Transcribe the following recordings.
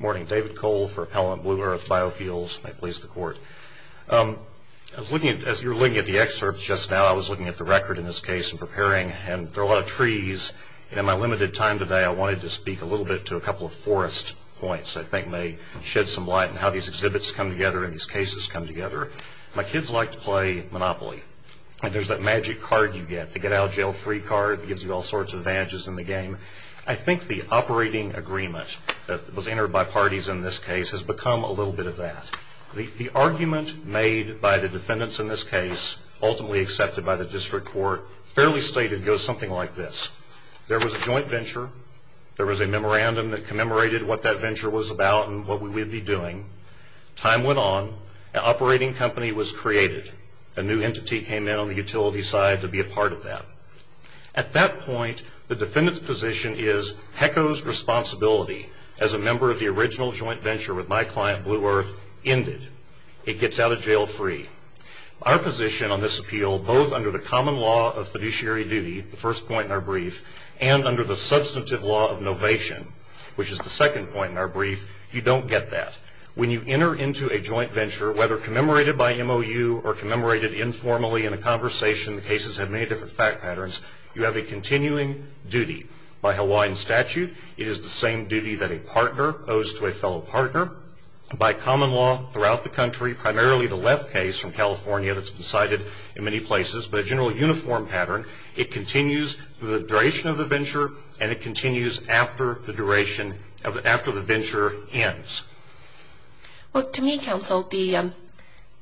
Morning. David Cole for Appellant Blue Earth Biofuels. May it please the Court. As you were looking at the excerpts just now, I was looking at the record in this case and preparing, and there are a lot of trees. In my limited time today, I wanted to speak a little bit to a couple of forest points. I think they shed some light on how these exhibits come together and these cases come together. My kids like to play Monopoly, and there's that magic card you get, the get-out-of-jail-free card. It gives you all sorts of advantages in the game. I think the operating agreement that was entered by parties in this case has become a little bit of that. The argument made by the defendants in this case, ultimately accepted by the district court, fairly stated goes something like this. There was a joint venture. There was a memorandum that commemorated what that venture was about and what we would be doing. Time went on. An operating company was created. A new entity came in on the utility side to be a part of that. At that point, the defendant's position is, HECO's responsibility as a member of the original joint venture with my client, Blue Earth, ended. It gets out of jail free. Our position on this appeal, both under the common law of fiduciary duty, the first point in our brief, and under the substantive law of novation, which is the second point in our brief, you don't get that. When you enter into a joint venture, whether commemorated by MOU or commemorated informally in a conversation, the cases have many different fact patterns. You have a continuing duty. By Hawaiian statute, it is the same duty that a partner owes to a fellow partner. By common law, throughout the country, primarily the left case from California that's been cited in many places, but a general uniform pattern, it continues for the duration of the venture and it continues after the venture ends. Well, to me, counsel, the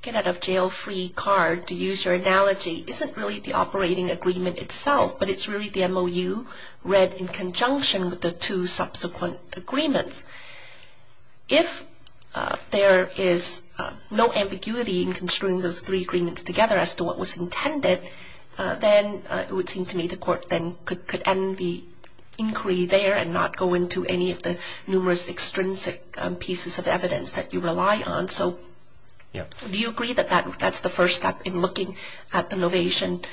get out of jail free card, to use your analogy, isn't really the operating agreement itself, but it's really the MOU read in conjunction with the two subsequent agreements. If there is no ambiguity in construing those three agreements together as to what was intended, then it would seem to me the court then could end the inquiry there and not go into any of the numerous extrinsic pieces of evidence that you rely on. So do you agree that that's the first step in looking at the novation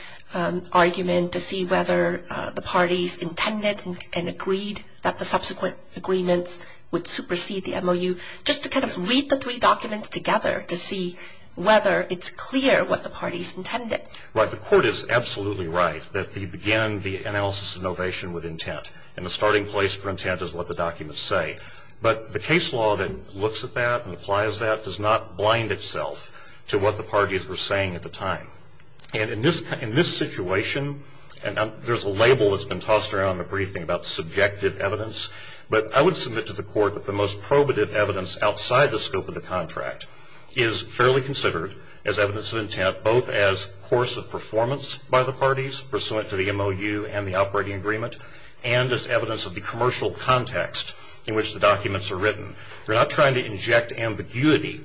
argument to see whether the parties intended and agreed that the subsequent agreements would supersede the MOU, just to kind of read the three documents together to see whether it's clear what the parties intended? Right. The court is absolutely right that we begin the analysis of novation with intent and the starting place for intent is what the documents say. But the case law that looks at that and applies that does not blind itself to what the parties were saying at the time. And in this situation, there's a label that's been tossed around in the briefing about subjective evidence, but I would submit to the court that the most probative evidence outside the scope of the contract is fairly considered as evidence of intent, both as course of performance by the parties, pursuant to the MOU and the operating agreement, and as evidence of the commercial context in which the documents are written. You're not trying to inject ambiguity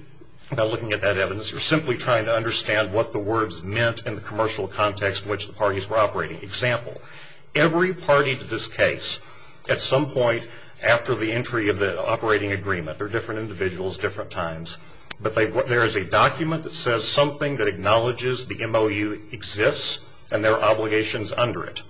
by looking at that evidence. You're simply trying to understand what the words meant in the commercial context in which the parties were operating. Example, every party to this case, at some point after the entry of the operating agreement, there are different individuals, different times, but there is a document that says something that acknowledges the MOU exists and there are obligations under it.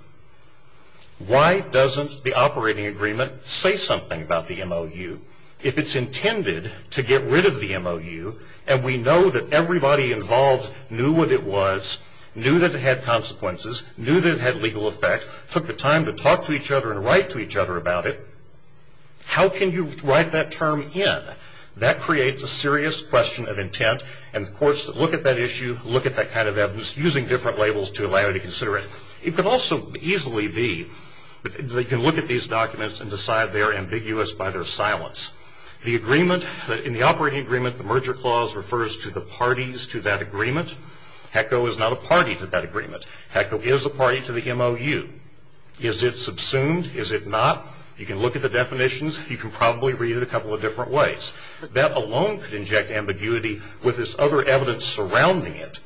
Why doesn't the operating agreement say something about the MOU if it's intended to get rid of the MOU and we know that everybody involved knew what it was, knew that it had consequences, knew that it had legal effect, took the time to talk to each other and write to each other about it. How can you write that term in? That creates a serious question of intent and the courts look at that issue, look at that kind of evidence using different labels to allow you to consider it. It could also easily be that they can look at these documents and decide they are ambiguous by their silence. The agreement, in the operating agreement, the merger clause refers to the parties to that agreement. HECO is not a party to that agreement. HECO is a party to the MOU. Is it subsumed? Is it not? You can look at the definitions. You can probably read it a couple of different ways. That alone could inject ambiguity with this other evidence surrounding it.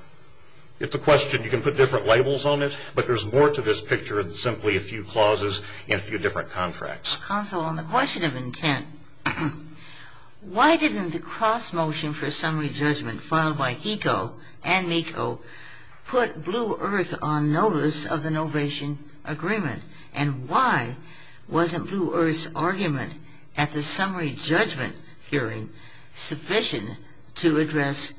It's a question you can put different labels on it, but there's more to this picture than simply a few clauses and a few different contracts. Counsel, on the question of intent, why didn't the cross motion for a summary judgment filed by HECO and MECO put Blue Earth on notice of the novation agreement and why wasn't Blue Earth's argument at the summary judgment hearing sufficient to address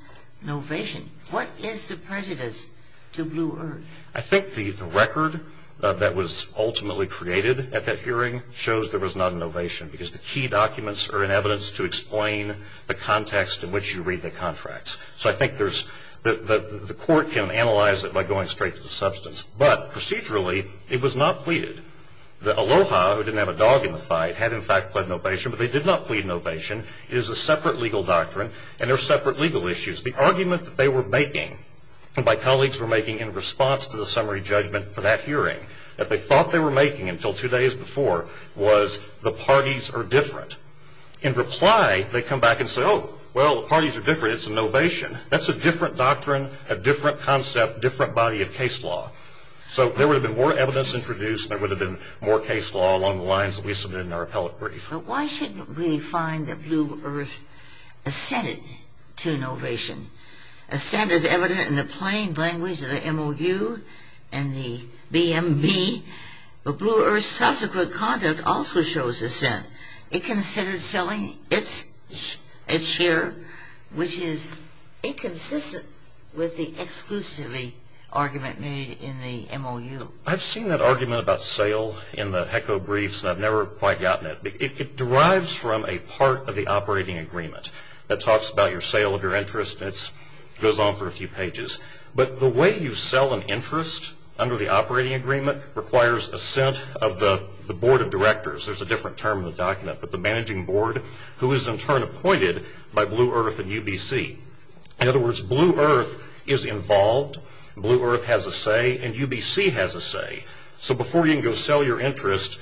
novation? What is the prejudice to Blue Earth? I think the record that was ultimately created at that hearing shows there was not a novation because the key documents are in evidence to explain the context in which you read the contracts. So I think there's the court can analyze it by going straight to the substance. But procedurally, it was not pleaded. The ALOHA, who didn't have a dog in the fight, had in fact pled novation, but they did not plead novation. It is a separate legal doctrine, and there are separate legal issues. The argument that they were making, and my colleagues were making in response to the summary judgment for that hearing, that they thought they were making until two days before was the parties are different. In reply, they come back and say, oh, well, the parties are different. It's a novation. That's a different doctrine, a different concept, different body of case law. So there would have been more evidence introduced. There would have been more case law along the lines that we submitted in our appellate brief. But why shouldn't we find that Blue Earth assented to novation? Assent is evident in the plain language of the MOU and the BMB, but Blue Earth's subsequent conduct also shows assent. It considers selling its share, which is inconsistent with the exclusivity argument made in the MOU. I've seen that argument about sale in the HECO briefs, and I've never quite gotten it. It derives from a part of the operating agreement that talks about your sale of your interest, and it goes on for a few pages. But the way you sell an interest under the operating agreement requires assent of the board of directors. There's a different term in the document, but the managing board, who is in turn appointed by Blue Earth and UBC. In other words, Blue Earth is involved. Blue Earth has a say, and UBC has a say. So before you can go sell your interest,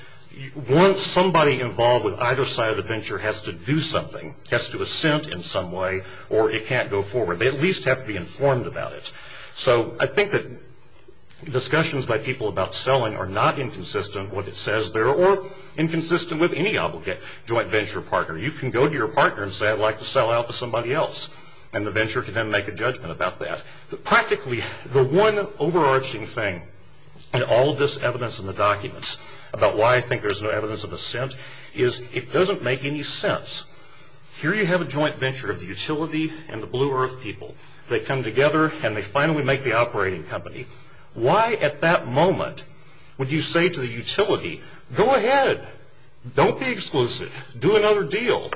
somebody involved with either side of the venture has to do something, has to assent in some way, or it can't go forward. They at least have to be informed about it. So I think that discussions by people about selling are not inconsistent, what it says there, or inconsistent with any obligate joint venture partner. You can go to your partner and say, I'd like to sell out to somebody else, and the venture can then make a judgment about that. But practically, the one overarching thing in all of this evidence in the documents about why I think there's no evidence of assent is it doesn't make any sense. Here you have a joint venture of the utility and the Blue Earth people. They come together, and they finally make the operating company. Why at that moment would you say to the utility, go ahead, don't be exclusive, do another deal?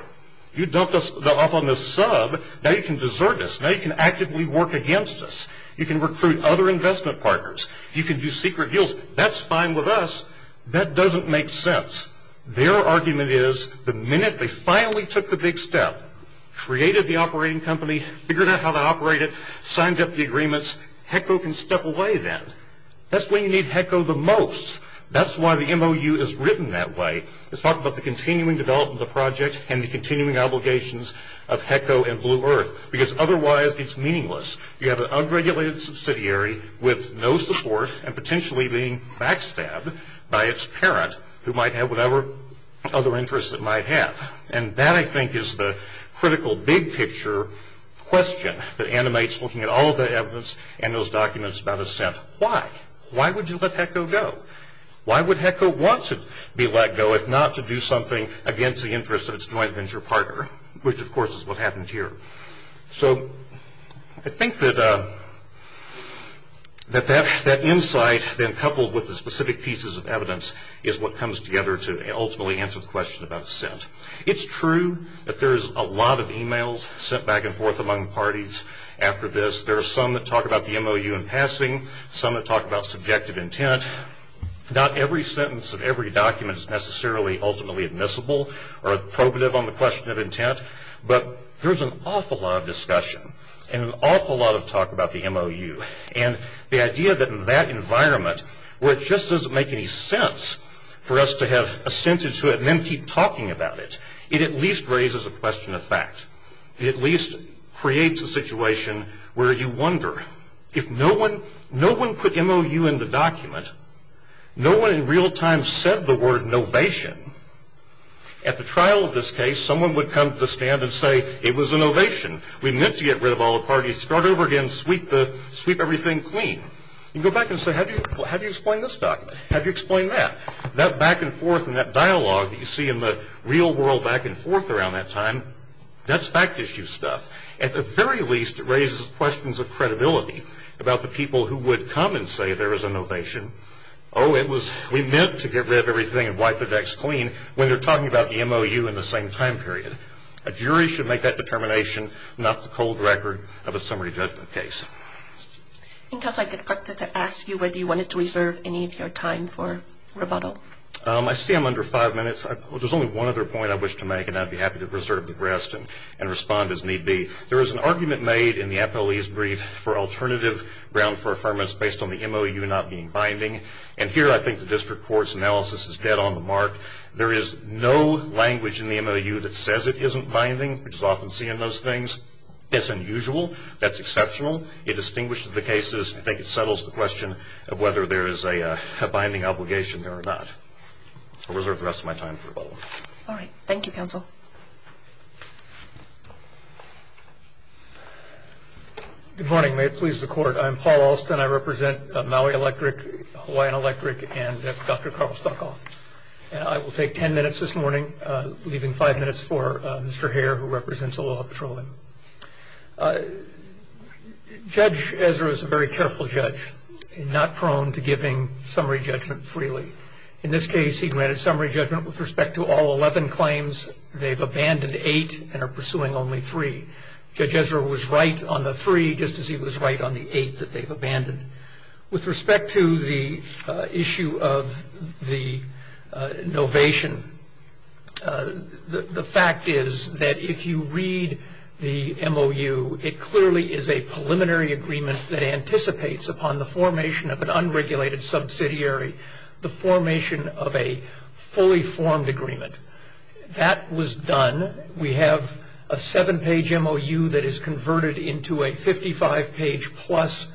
You dumped us off on this sub. Now you can desert us. Now you can actively work against us. You can recruit other investment partners. You can do secret deals. That's fine with us. That doesn't make sense. Their argument is the minute they finally took the big step, created the operating company, figured out how to operate it, signed up the agreements, HECO can step away then. That's when you need HECO the most. That's why the MOU is written that way. It's talking about the continuing development of the project and the continuing obligations of HECO and Blue Earth, because otherwise it's meaningless. You have an unregulated subsidiary with no support and potentially being backstabbed by its parent, who might have whatever other interests it might have. And that, I think, is the critical big picture question that animates looking at all of the evidence and those documents about assent. Why? Why would you let HECO go? Why would HECO want to be let go if not to do something against the interests of its joint venture partner, which, of course, is what happened here. So I think that that insight then coupled with the specific pieces of evidence is what comes together to ultimately answer the question about assent. It's true that there's a lot of e-mails sent back and forth among parties after this. There are some that talk about the MOU in passing, some that talk about subjective intent. Not every sentence of every document is necessarily ultimately admissible or appropriate on the question of intent, but there's an awful lot of discussion and an awful lot of talk about the MOU. And the idea that in that environment, where it just doesn't make any sense for us to have assent into it and then keep talking about it, it at least raises a question of fact. It at least creates a situation where you wonder. If no one put MOU in the document, no one in real time said the word novation, at the trial of this case, someone would come to the stand and say, it was a novation. We meant to get rid of all the parties, start over again, sweep everything clean. You go back and say, how do you explain this document? How do you explain that? That back and forth and that dialogue that you see in the real world back and forth around that time, that's fact issue stuff. At the very least, it raises questions of credibility about the people who would come and say there was a novation. Oh, we meant to get rid of everything and wipe the decks clean when they're talking about the MOU in the same time period. A jury should make that determination, not the cold record of a summary judgment case. I think I'd like to ask you whether you wanted to reserve any of your time for rebuttal. I see I'm under five minutes. There's only one other point I wish to make, and I'd be happy to reserve the rest and respond as need be. There is an argument made in the APOE's brief for alternative ground for affirmance based on the MOU not being binding, and here I think the district court's analysis is dead on the mark. There is no language in the MOU that says it isn't binding, which is often seen in those things. It's unusual. That's exceptional. It distinguishes the cases. I think it settles the question of whether there is a binding obligation there or not. I'll reserve the rest of my time for rebuttal. All right. Thank you, counsel. Good morning. May it please the Court. I'm Paul Alston. I represent Maui Electric, Hawaiian Electric, and Dr. Carl Stockoff. And I will take ten minutes this morning, leaving five minutes for Mr. Hare, who represents Aloha Petroleum. Judge Ezra is a very careful judge, not prone to giving summary judgment freely. In this case, he granted summary judgment with respect to all 11 claims. They've abandoned eight and are pursuing only three. Judge Ezra was right on the three, just as he was right on the eight that they've abandoned. With respect to the issue of the novation, the fact is that if you read the MOU, it clearly is a preliminary agreement that anticipates upon the formation of an unregulated subsidiary, the formation of a fully formed agreement. That was done. We have a seven-page MOU that is converted into a 55-page-plus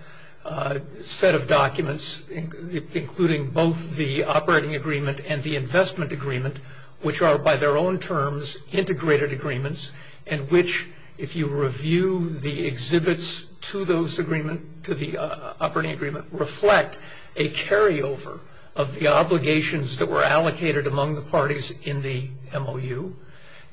set of documents, including both the operating agreement and the investment agreement, which are, by their own terms, integrated agreements, and which, if you review the exhibits to the operating agreement, reflect a carryover of the obligations that were allocated among the parties in the MOU.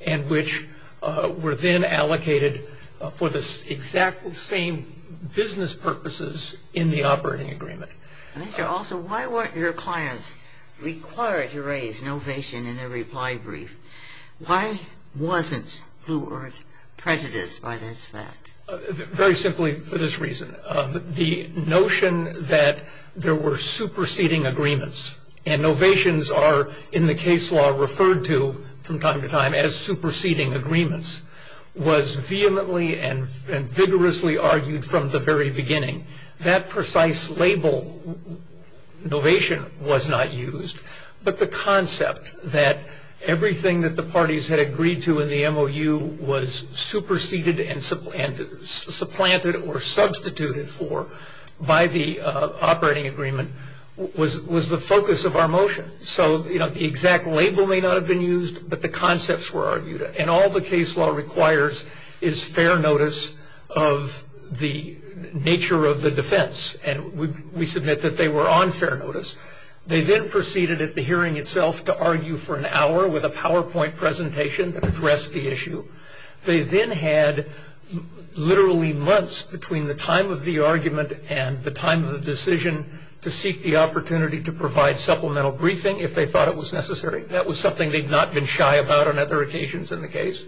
And which were then allocated for the exact same business purposes in the operating agreement. Mr. Alsop, why weren't your clients required to raise novation in their reply brief? Why wasn't Blue Earth prejudiced by this fact? Very simply for this reason. The notion that there were superseding agreements, and novations are in the case law referred to from time to time as superseding agreements, was vehemently and vigorously argued from the very beginning. That precise label, novation, was not used. But the concept that everything that the parties had agreed to in the MOU was superseded and supplanted or substituted for by the operating agreement was the focus of our motion. So, you know, the exact label may not have been used, but the concepts were argued. And all the case law requires is fair notice of the nature of the defense. And we submit that they were on fair notice. They then proceeded at the hearing itself to argue for an hour with a PowerPoint presentation that addressed the issue. They then had literally months between the time of the argument and the time of the decision to seek the opportunity to provide supplemental briefing if they thought it was necessary. That was something they'd not been shy about on other occasions in the case.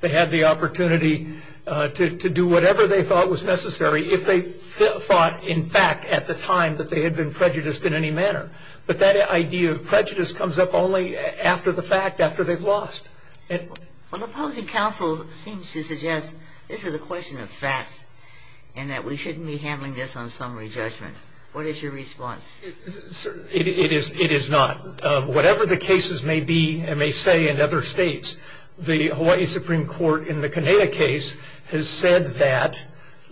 They had the opportunity to do whatever they thought was necessary if they thought, in fact, at the time that they had been prejudiced in any manner. But that idea of prejudice comes up only after the fact, after they've lost. Well, opposing counsel seems to suggest this is a question of facts and that we shouldn't be handling this on summary judgment. What is your response? It is not. Whatever the cases may be and may say in other states, the Hawaii Supreme Court in the Kaneda case has said that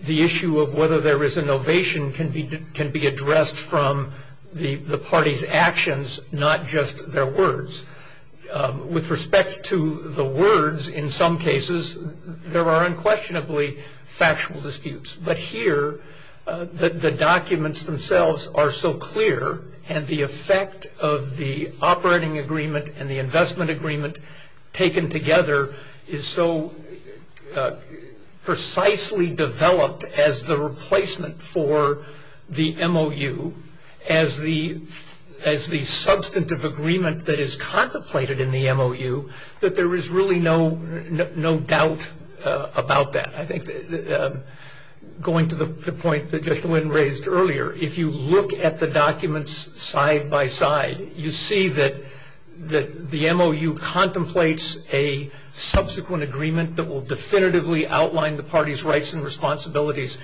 the issue of whether there is an ovation can be addressed from the party's actions, not just their words. With respect to the words, in some cases, there are unquestionably factual disputes. But here, the documents themselves are so clear and the effect of the operating agreement and the investment agreement taken together is so precisely developed as the replacement for the MOU, as the substantive agreement that is contemplated in the MOU, that there is really no doubt about that. I think going to the point that Judge Nguyen raised earlier, if you look at the documents side by side, you see that the MOU contemplates a subsequent agreement that will definitively outline the party's rights and responsibilities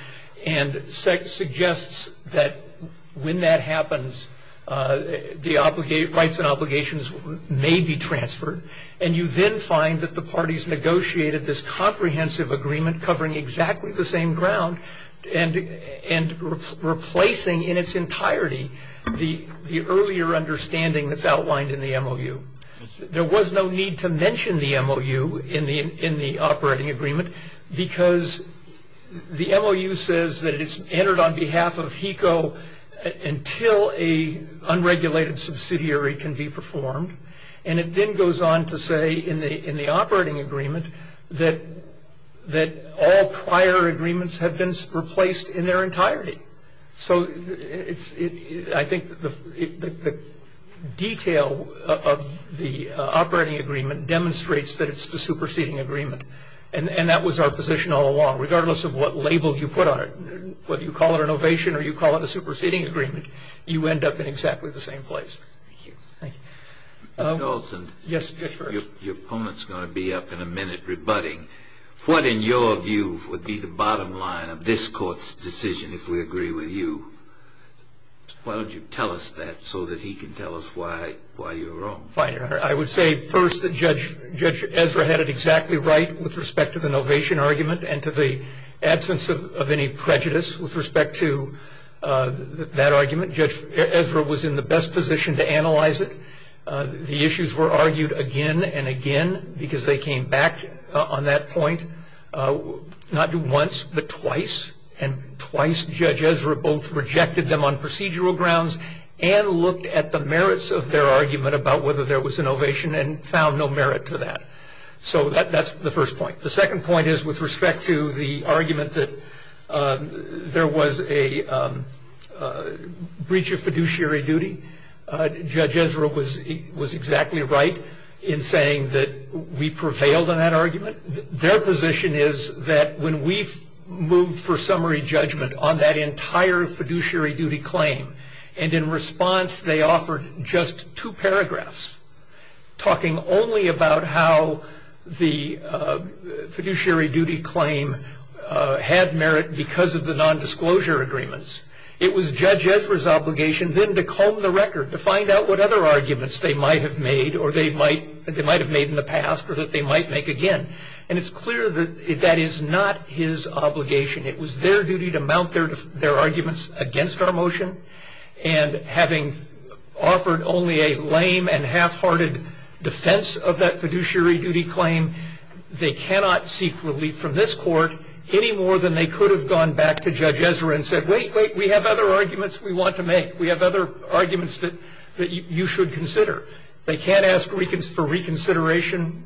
and suggests that when that happens, the rights and obligations may be transferred. And you then find that the parties negotiated this comprehensive agreement covering exactly the same ground and replacing in its entirety the earlier understanding that's outlined in the MOU. There was no need to mention the MOU in the operating agreement because the MOU says that it's entered on behalf of HECO until an unregulated subsidiary can be performed. And it then goes on to say in the operating agreement that all prior agreements have been replaced in their entirety. So I think the detail of the operating agreement demonstrates that it's the superseding agreement. And that was our position all along. Regardless of what label you put on it, whether you call it an ovation or you call it a superseding agreement, you end up in exactly the same place. Thank you. Mr. Dalton. Yes, Judge Ferguson. Your opponent's going to be up in a minute rebutting. What, in your view, would be the bottom line of this Court's decision if we agree with you? Why don't you tell us that so that he can tell us why you're wrong? Fine, Your Honor. I would say first that Judge Ezra had it exactly right with respect to the novation argument and to the absence of any prejudice with respect to that argument. Judge Ezra was in the best position to analyze it. The issues were argued again and again because they came back on that point not once but twice, and twice Judge Ezra both rejected them on procedural grounds and looked at the merits of their argument about whether there was an ovation and found no merit to that. So that's the first point. The second point is with respect to the argument that there was a breach of fiduciary duty. Judge Ezra was exactly right in saying that we prevailed on that argument. Their position is that when we've moved for summary judgment on that entire fiduciary duty claim and in response they offered just two paragraphs talking only about how the fiduciary duty claim had merit because of the nondisclosure agreements. It was Judge Ezra's obligation then to comb the record, to find out what other arguments they might have made in the past or that they might make again. And it's clear that that is not his obligation. It was their duty to mount their arguments against our motion, and having offered only a lame and half-hearted defense of that fiduciary duty claim, they cannot seek relief from this Court any more than they could have gone back to Judge Ezra and said, wait, wait, we have other arguments we want to make. We have other arguments that you should consider. They can't ask for reconsideration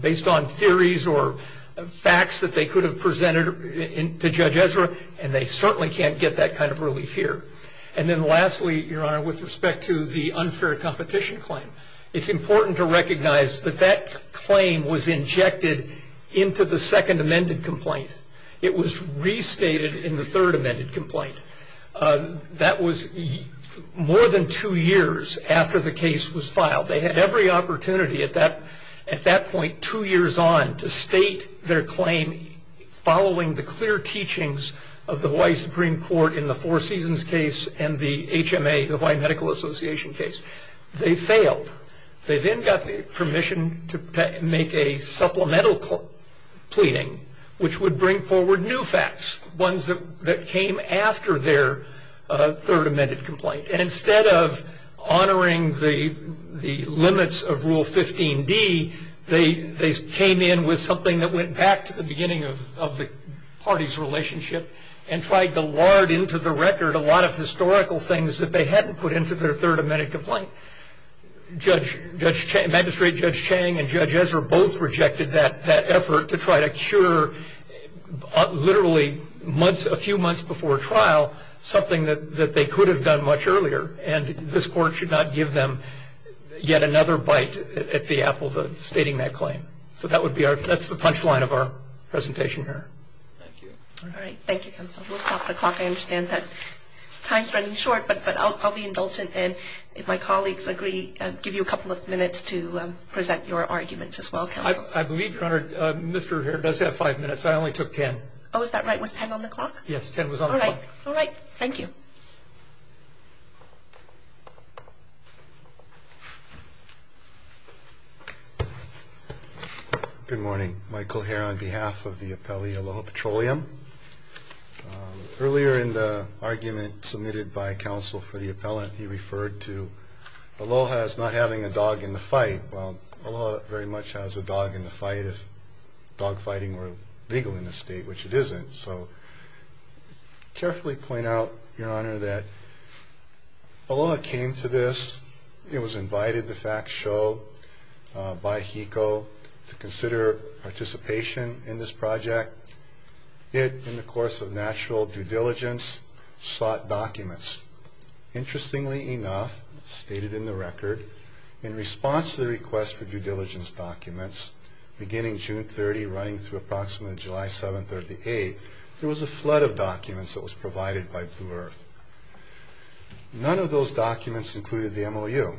based on theories or facts that they could have presented to Judge Ezra, and they certainly can't get that kind of relief here. And then lastly, Your Honor, with respect to the unfair competition claim, it's important to recognize that that claim was injected into the second amended complaint. It was restated in the third amended complaint. That was more than two years after the case was filed. They had every opportunity at that point two years on to state their claim following the clear teachings of the Hawaii Supreme Court in the Four Seasons case and the HMA, the Hawaii Medical Association case. They failed. They then got permission to make a supplemental pleading which would bring forward new facts, ones that came after their third amended complaint. And instead of honoring the limits of Rule 15D, they came in with something that went back to the beginning of the party's relationship and tried to lard into the record a lot of historical things that they hadn't put into their third amended complaint. Magistrate Judge Chang and Judge Ezra both rejected that effort to try to cure literally a few months before trial something that they could have done much earlier, and this Court should not give them yet another bite at the apple of stating that claim. So that's the punchline of our presentation here. Thank you. All right. Thank you, counsel. We'll stop the clock. I understand that time's running short, but I'll be indulgent. And if my colleagues agree, I'll give you a couple of minutes to present your arguments as well, counsel. I believe, Your Honor, Mr. Hare does have five minutes. I only took ten. Oh, is that right? Was ten on the clock? Yes, ten was on the clock. All right. Thank you. Good morning. Michael Hare on behalf of the appellee, Aloha Petroleum. Earlier in the argument submitted by counsel for the appellant, he referred to Aloha as not having a dog in the fight. Well, Aloha very much has a dog in the fight if dog fighting were legal in this state, which it isn't. So I'll carefully point out, Your Honor, that Aloha came to this. It was invited, the facts show, by HECO to consider participation in this project. It, in the course of natural due diligence, sought documents. Interestingly enough, stated in the record, in response to the request for due diligence documents, beginning June 30 running through approximately July 7th or the 8th, there was a flood of documents that was provided by Blue Earth. None of those documents included the MOU.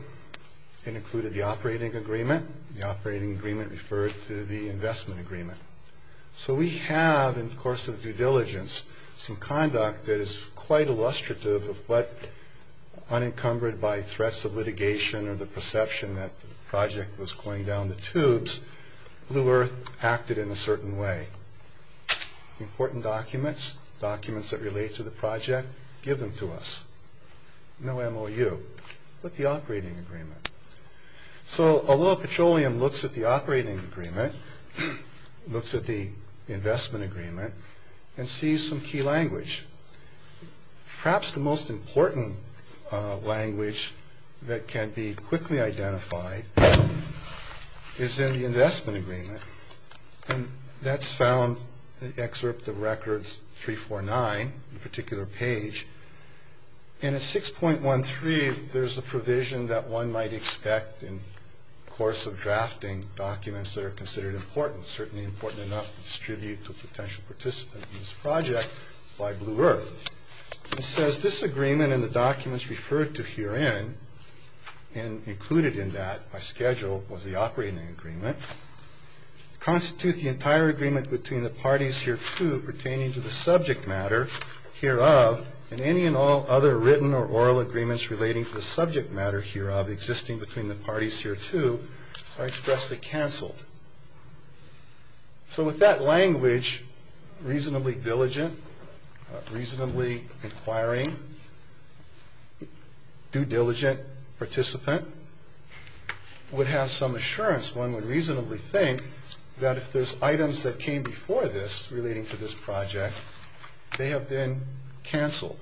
It included the operating agreement. The operating agreement referred to the investment agreement. So we have, in the course of due diligence, some conduct that is quite illustrative of what, unencumbered by threats of litigation or the perception that the project was going down the tubes, Blue Earth acted in a certain way. Important documents, documents that relate to the project, give them to us. No MOU, but the operating agreement. So Aloha Petroleum looks at the operating agreement, looks at the investment agreement, and sees some key language. Perhaps the most important language that can be quickly identified is in the investment agreement. And that's found in excerpt of records 349, a particular page. And at 6.13, there's a provision that one might expect in the course of drafting documents that are considered important, certainly important enough to distribute to a potential participant in this project by Blue Earth. It says, this agreement and the documents referred to herein, and included in that by schedule was the operating agreement, constitute the entire agreement between the parties hereto pertaining to the subject matter hereof, and any and all other written or oral agreements relating to the subject matter hereof existing between the parties hereto are expressly canceled. So with that language, reasonably diligent, reasonably inquiring, due diligent participant would have some assurance. One would reasonably think that if there's items that came before this relating to this project, they have been canceled.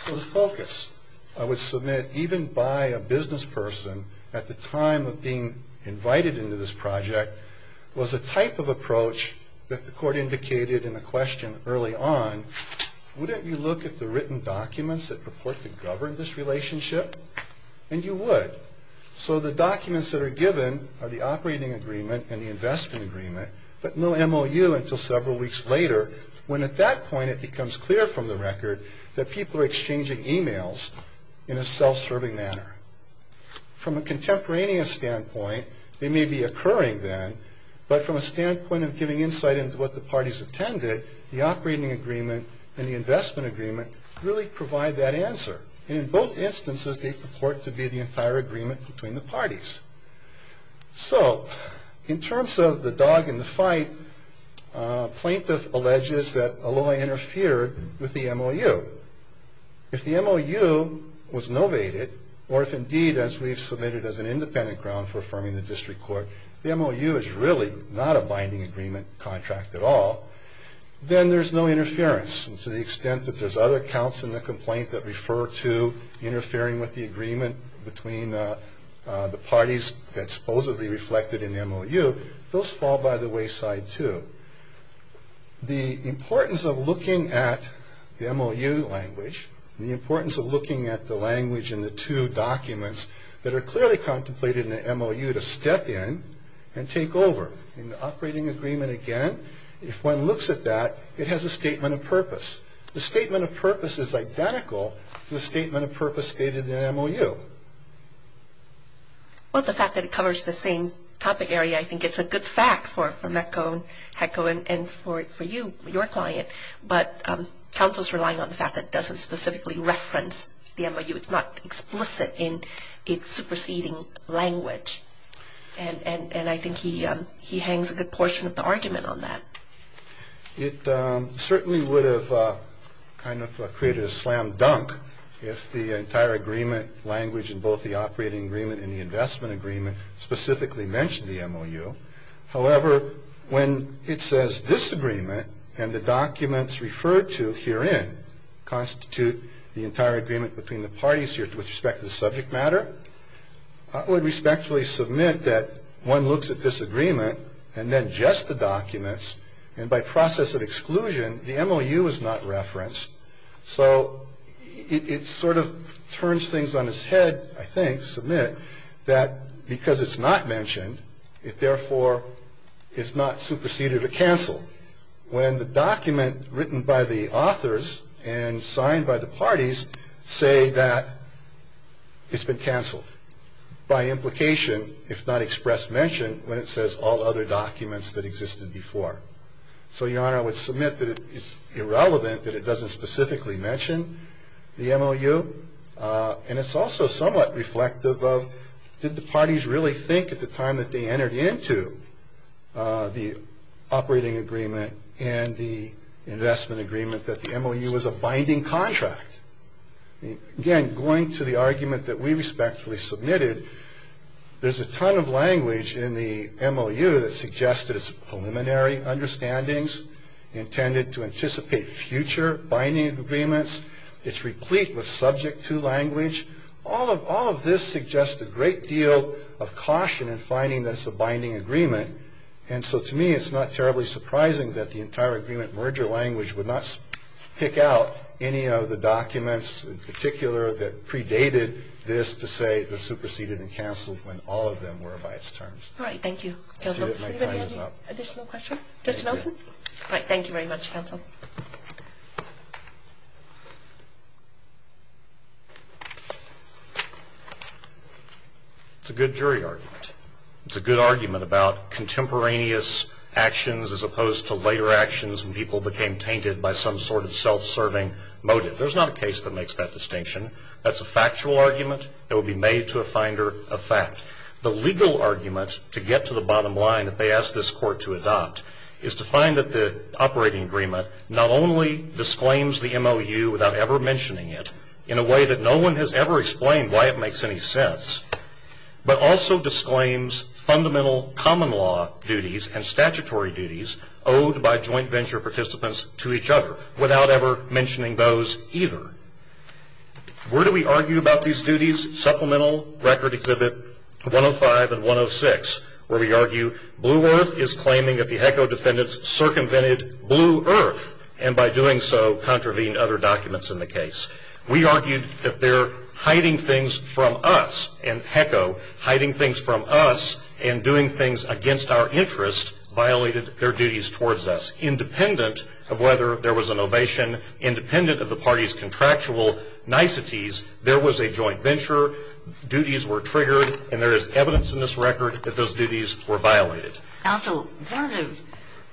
So the focus I would submit, even by a business person at the time of being invited into this project, was a type of approach that the court indicated in a question early on. Wouldn't you look at the written documents that purport to govern this relationship? And you would. So the documents that are given are the operating agreement and the investment agreement, but no MOU until several weeks later, when at that point it becomes clear from the record that people are exchanging emails in a self-serving manner. From a contemporaneous standpoint, they may be occurring then, but from a standpoint of giving insight into what the parties attended, the operating agreement and the investment agreement really provide that answer. And in both instances, they purport to be the entire agreement between the parties. So in terms of the dog in the fight, plaintiff alleges that a lawyer interfered with the MOU. If the MOU was novated, or if indeed, as we've submitted as an independent ground for affirming the district court, the MOU is really not a binding agreement contract at all, then there's no interference. And to the extent that there's other counts in the complaint that refer to interfering with the agreement between the parties that supposedly reflected in the MOU, those fall by the wayside too. The importance of looking at the MOU language, and the importance of looking at the language in the two documents that are clearly contemplated in the MOU to step in and take over. In the operating agreement, again, if one looks at that, it has a statement of purpose. The statement of purpose is identical to the statement of purpose stated in the MOU. Well, the fact that it covers the same topic area, I think it's a good fact for MECCO and HECO and for you, your client. But counsel's relying on the fact that it doesn't specifically reference the MOU. It's not explicit in its superseding language. And I think he hangs a good portion of the argument on that. It certainly would have kind of created a slam dunk if the entire agreement language in both the operating agreement and the investment agreement specifically mentioned the MOU. However, when it says this agreement and the documents referred to herein constitute the entire agreement between the parties here with respect to the subject matter, I would respectfully submit that one looks at this agreement and then just the documents, and by process of exclusion, the MOU is not referenced. So it sort of turns things on its head, I think, submit, that because it's not mentioned, it therefore is not superseded or canceled. When the document written by the authors and signed by the parties say that it's been canceled, by implication if not expressed mention when it says all other documents that existed before. So, your Honor, I would submit that it's irrelevant that it doesn't specifically mention the MOU. And it's also somewhat reflective of did the parties really think at the time that they entered into the operating agreement and the investment agreement that the MOU was a binding contract? Again, going to the argument that we respectfully submitted, there's a ton of language in the MOU that suggests that it's preliminary understandings intended to anticipate future binding agreements. It's replete with subject to language. All of this suggests a great deal of caution in finding this a binding agreement. And so, to me, it's not terribly surprising that the entire agreement merger language would not pick out any of the documents in particular that predated this to say it was superseded and canceled when all of them were by its terms. All right. Thank you, counsel. Does anybody have any additional questions? Judge Nelson? All right. Thank you very much, counsel. It's a good jury argument. It's a good argument about contemporaneous actions as opposed to later actions when people became tainted by some sort of self-serving motive. There's not a case that makes that distinction. That's a factual argument that would be made to a finder of fact. The legal argument to get to the bottom line that they asked this court to adopt is to find that the operating agreement not only disclaims the MOU without ever mentioning it in a way that no one has ever explained why it makes any sense, but also disclaims fundamental common law duties and statutory duties owed by joint venture participants to each other without ever mentioning those either. Where do we argue about these duties? Supplemental Record Exhibit 105 and 106 where we argue Blue Earth is claiming that the HECO defendants circumvented Blue Earth and by doing so contravened other documents in the case. We argued that their hiding things from us, and HECO, hiding things from us and doing things against our interest violated their duties towards us. Independent of whether there was an ovation, independent of the party's contractual niceties, there was a joint venture, duties were triggered, and there is evidence in this record that those duties were violated. Counsel, one of the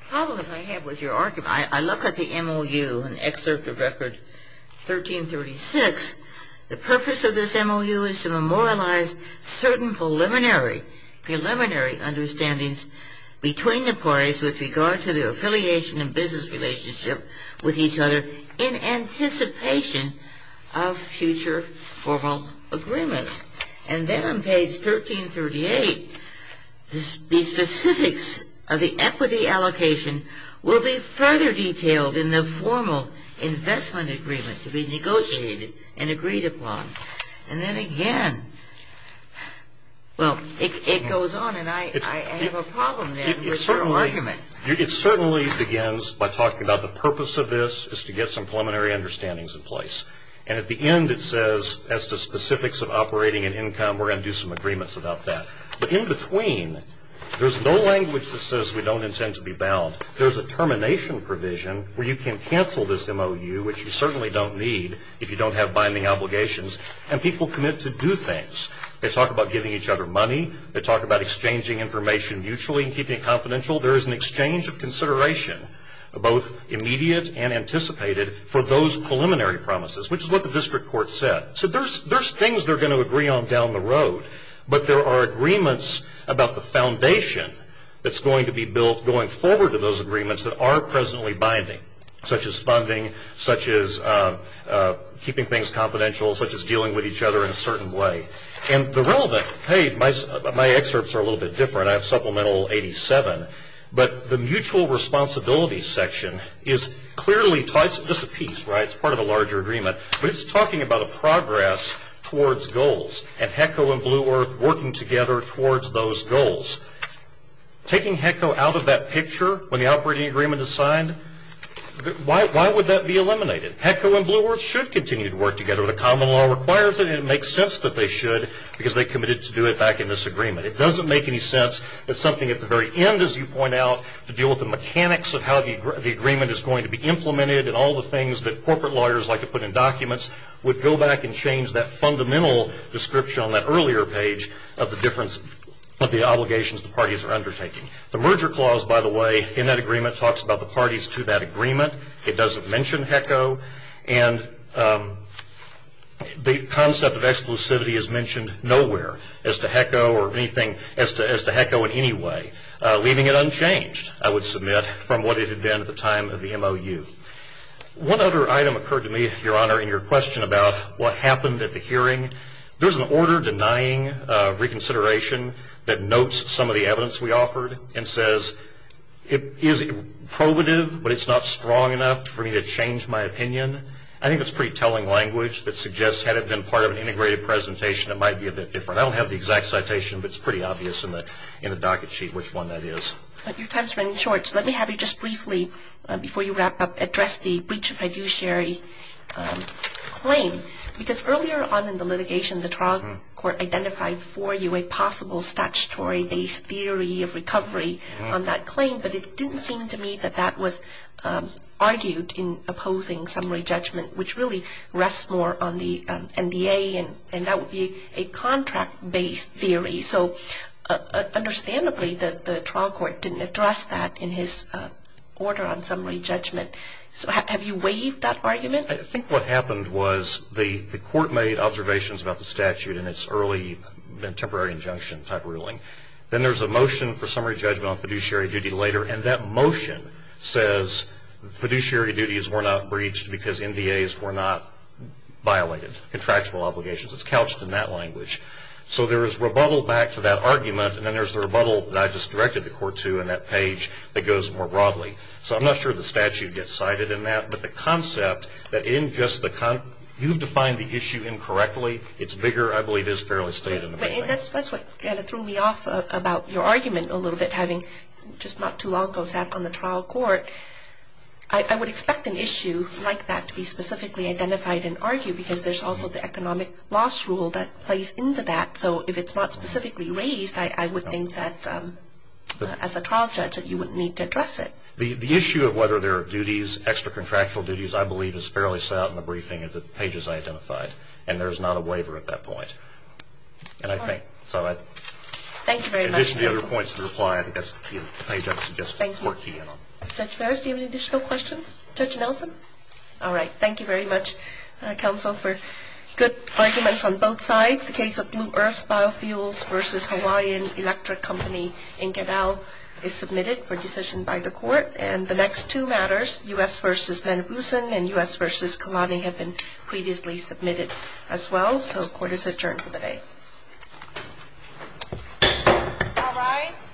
problems I have with your argument, I look at the MOU in Excerpt of Record 1336. The purpose of this MOU is to memorialize certain preliminary understandings between the parties with regard to their affiliation and business relationship with each other in anticipation of future formal agreements. And then on page 1338, the specifics of the equity allocation will be further detailed in the formal investment agreement to be negotiated and agreed upon. And then again, well, it goes on and I have a problem with your argument. It certainly begins by talking about the purpose of this is to get some preliminary understandings in place. And at the end it says as to specifics of operating and income, and we're going to do some agreements about that. But in between, there's no language that says we don't intend to be bound. There's a termination provision where you can cancel this MOU, which you certainly don't need if you don't have binding obligations, and people commit to do things. They talk about giving each other money. They talk about exchanging information mutually and keeping it confidential. There is an exchange of consideration, both immediate and anticipated, for those preliminary promises, which is what the district court said. So there's things they're going to agree on down the road, but there are agreements about the foundation that's going to be built going forward to those agreements that are presently binding, such as funding, such as keeping things confidential, such as dealing with each other in a certain way. And the relevant page, my excerpts are a little bit different. I have supplemental 87, but the mutual responsibility section is clearly, it's just a piece, right, it's part of a larger agreement, but it's talking about a progress towards goals and HECO and Blue Earth working together towards those goals. Taking HECO out of that picture when the operating agreement is signed, why would that be eliminated? HECO and Blue Earth should continue to work together. The common law requires it, and it makes sense that they should because they committed to do it back in this agreement. It doesn't make any sense. It's something at the very end, as you point out, to deal with the mechanics of how the agreement is going to be implemented and all the things that corporate lawyers like to put in documents would go back and change that fundamental description on that earlier page of the difference of the obligations the parties are undertaking. The merger clause, by the way, in that agreement, talks about the parties to that agreement. It doesn't mention HECO, and the concept of exclusivity is mentioned nowhere as to HECO in any way, leaving it unchanged, I would submit, from what it had been at the time of the MOU. One other item occurred to me, Your Honor, in your question about what happened at the hearing. There's an order denying reconsideration that notes some of the evidence we offered and says it is probative, but it's not strong enough for me to change my opinion. I think that's pretty telling language that suggests, had it been part of an integrated presentation, it might be a bit different. I don't have the exact citation, but it's pretty obvious in the docket sheet which one that is. Your time has run short, so let me have you just briefly, before you wrap up, address the breach of fiduciary claim. Because earlier on in the litigation, the trial court identified for you a possible statutory-based theory of recovery on that claim, but it didn't seem to me that that was argued in opposing summary judgment, which really rests more on the NDA, and that would be a contract-based theory. So understandably, the trial court didn't address that in his order on summary judgment. So have you waived that argument? I think what happened was the court made observations about the statute in its early temporary injunction type ruling. Then there's a motion for summary judgment on fiduciary duty later, and that motion says fiduciary duties were not breached because NDAs were not violated, contractual obligations. It's couched in that language. So there is rebuttal back to that argument, and then there's the rebuttal that I just directed the court to in that page that goes more broadly. So I'm not sure the statute gets cited in that, but the concept that you've defined the issue incorrectly, it's bigger, I believe is fairly stated. That's what kind of threw me off about your argument a little bit, having just not too long ago sat on the trial court. I would expect an issue like that to be specifically identified and argued because there's also the economic loss rule that plays into that. So if it's not specifically raised, I would think that as a trial judge that you would need to address it. The issue of whether there are duties, extra-contractual duties, I believe is fairly set out in the briefing of the pages I identified, and there's not a waiver at that point. And I think so. Thank you very much. In addition to the other points in the reply, I think that's the page I suggested the court key in on. Thank you. Judge Ferris, do you have any additional questions? Judge Nelson? All right. Thank you very much, counsel. For good arguments on both sides, the case of Blue Earth Biofuels v. Hawaiian Electric Company in Caddell is submitted for decision by the court. And the next two matters, U.S. v. Manipusan and U.S. v. Kalani, have been previously submitted as well. So the court is adjourned for the day. All rise.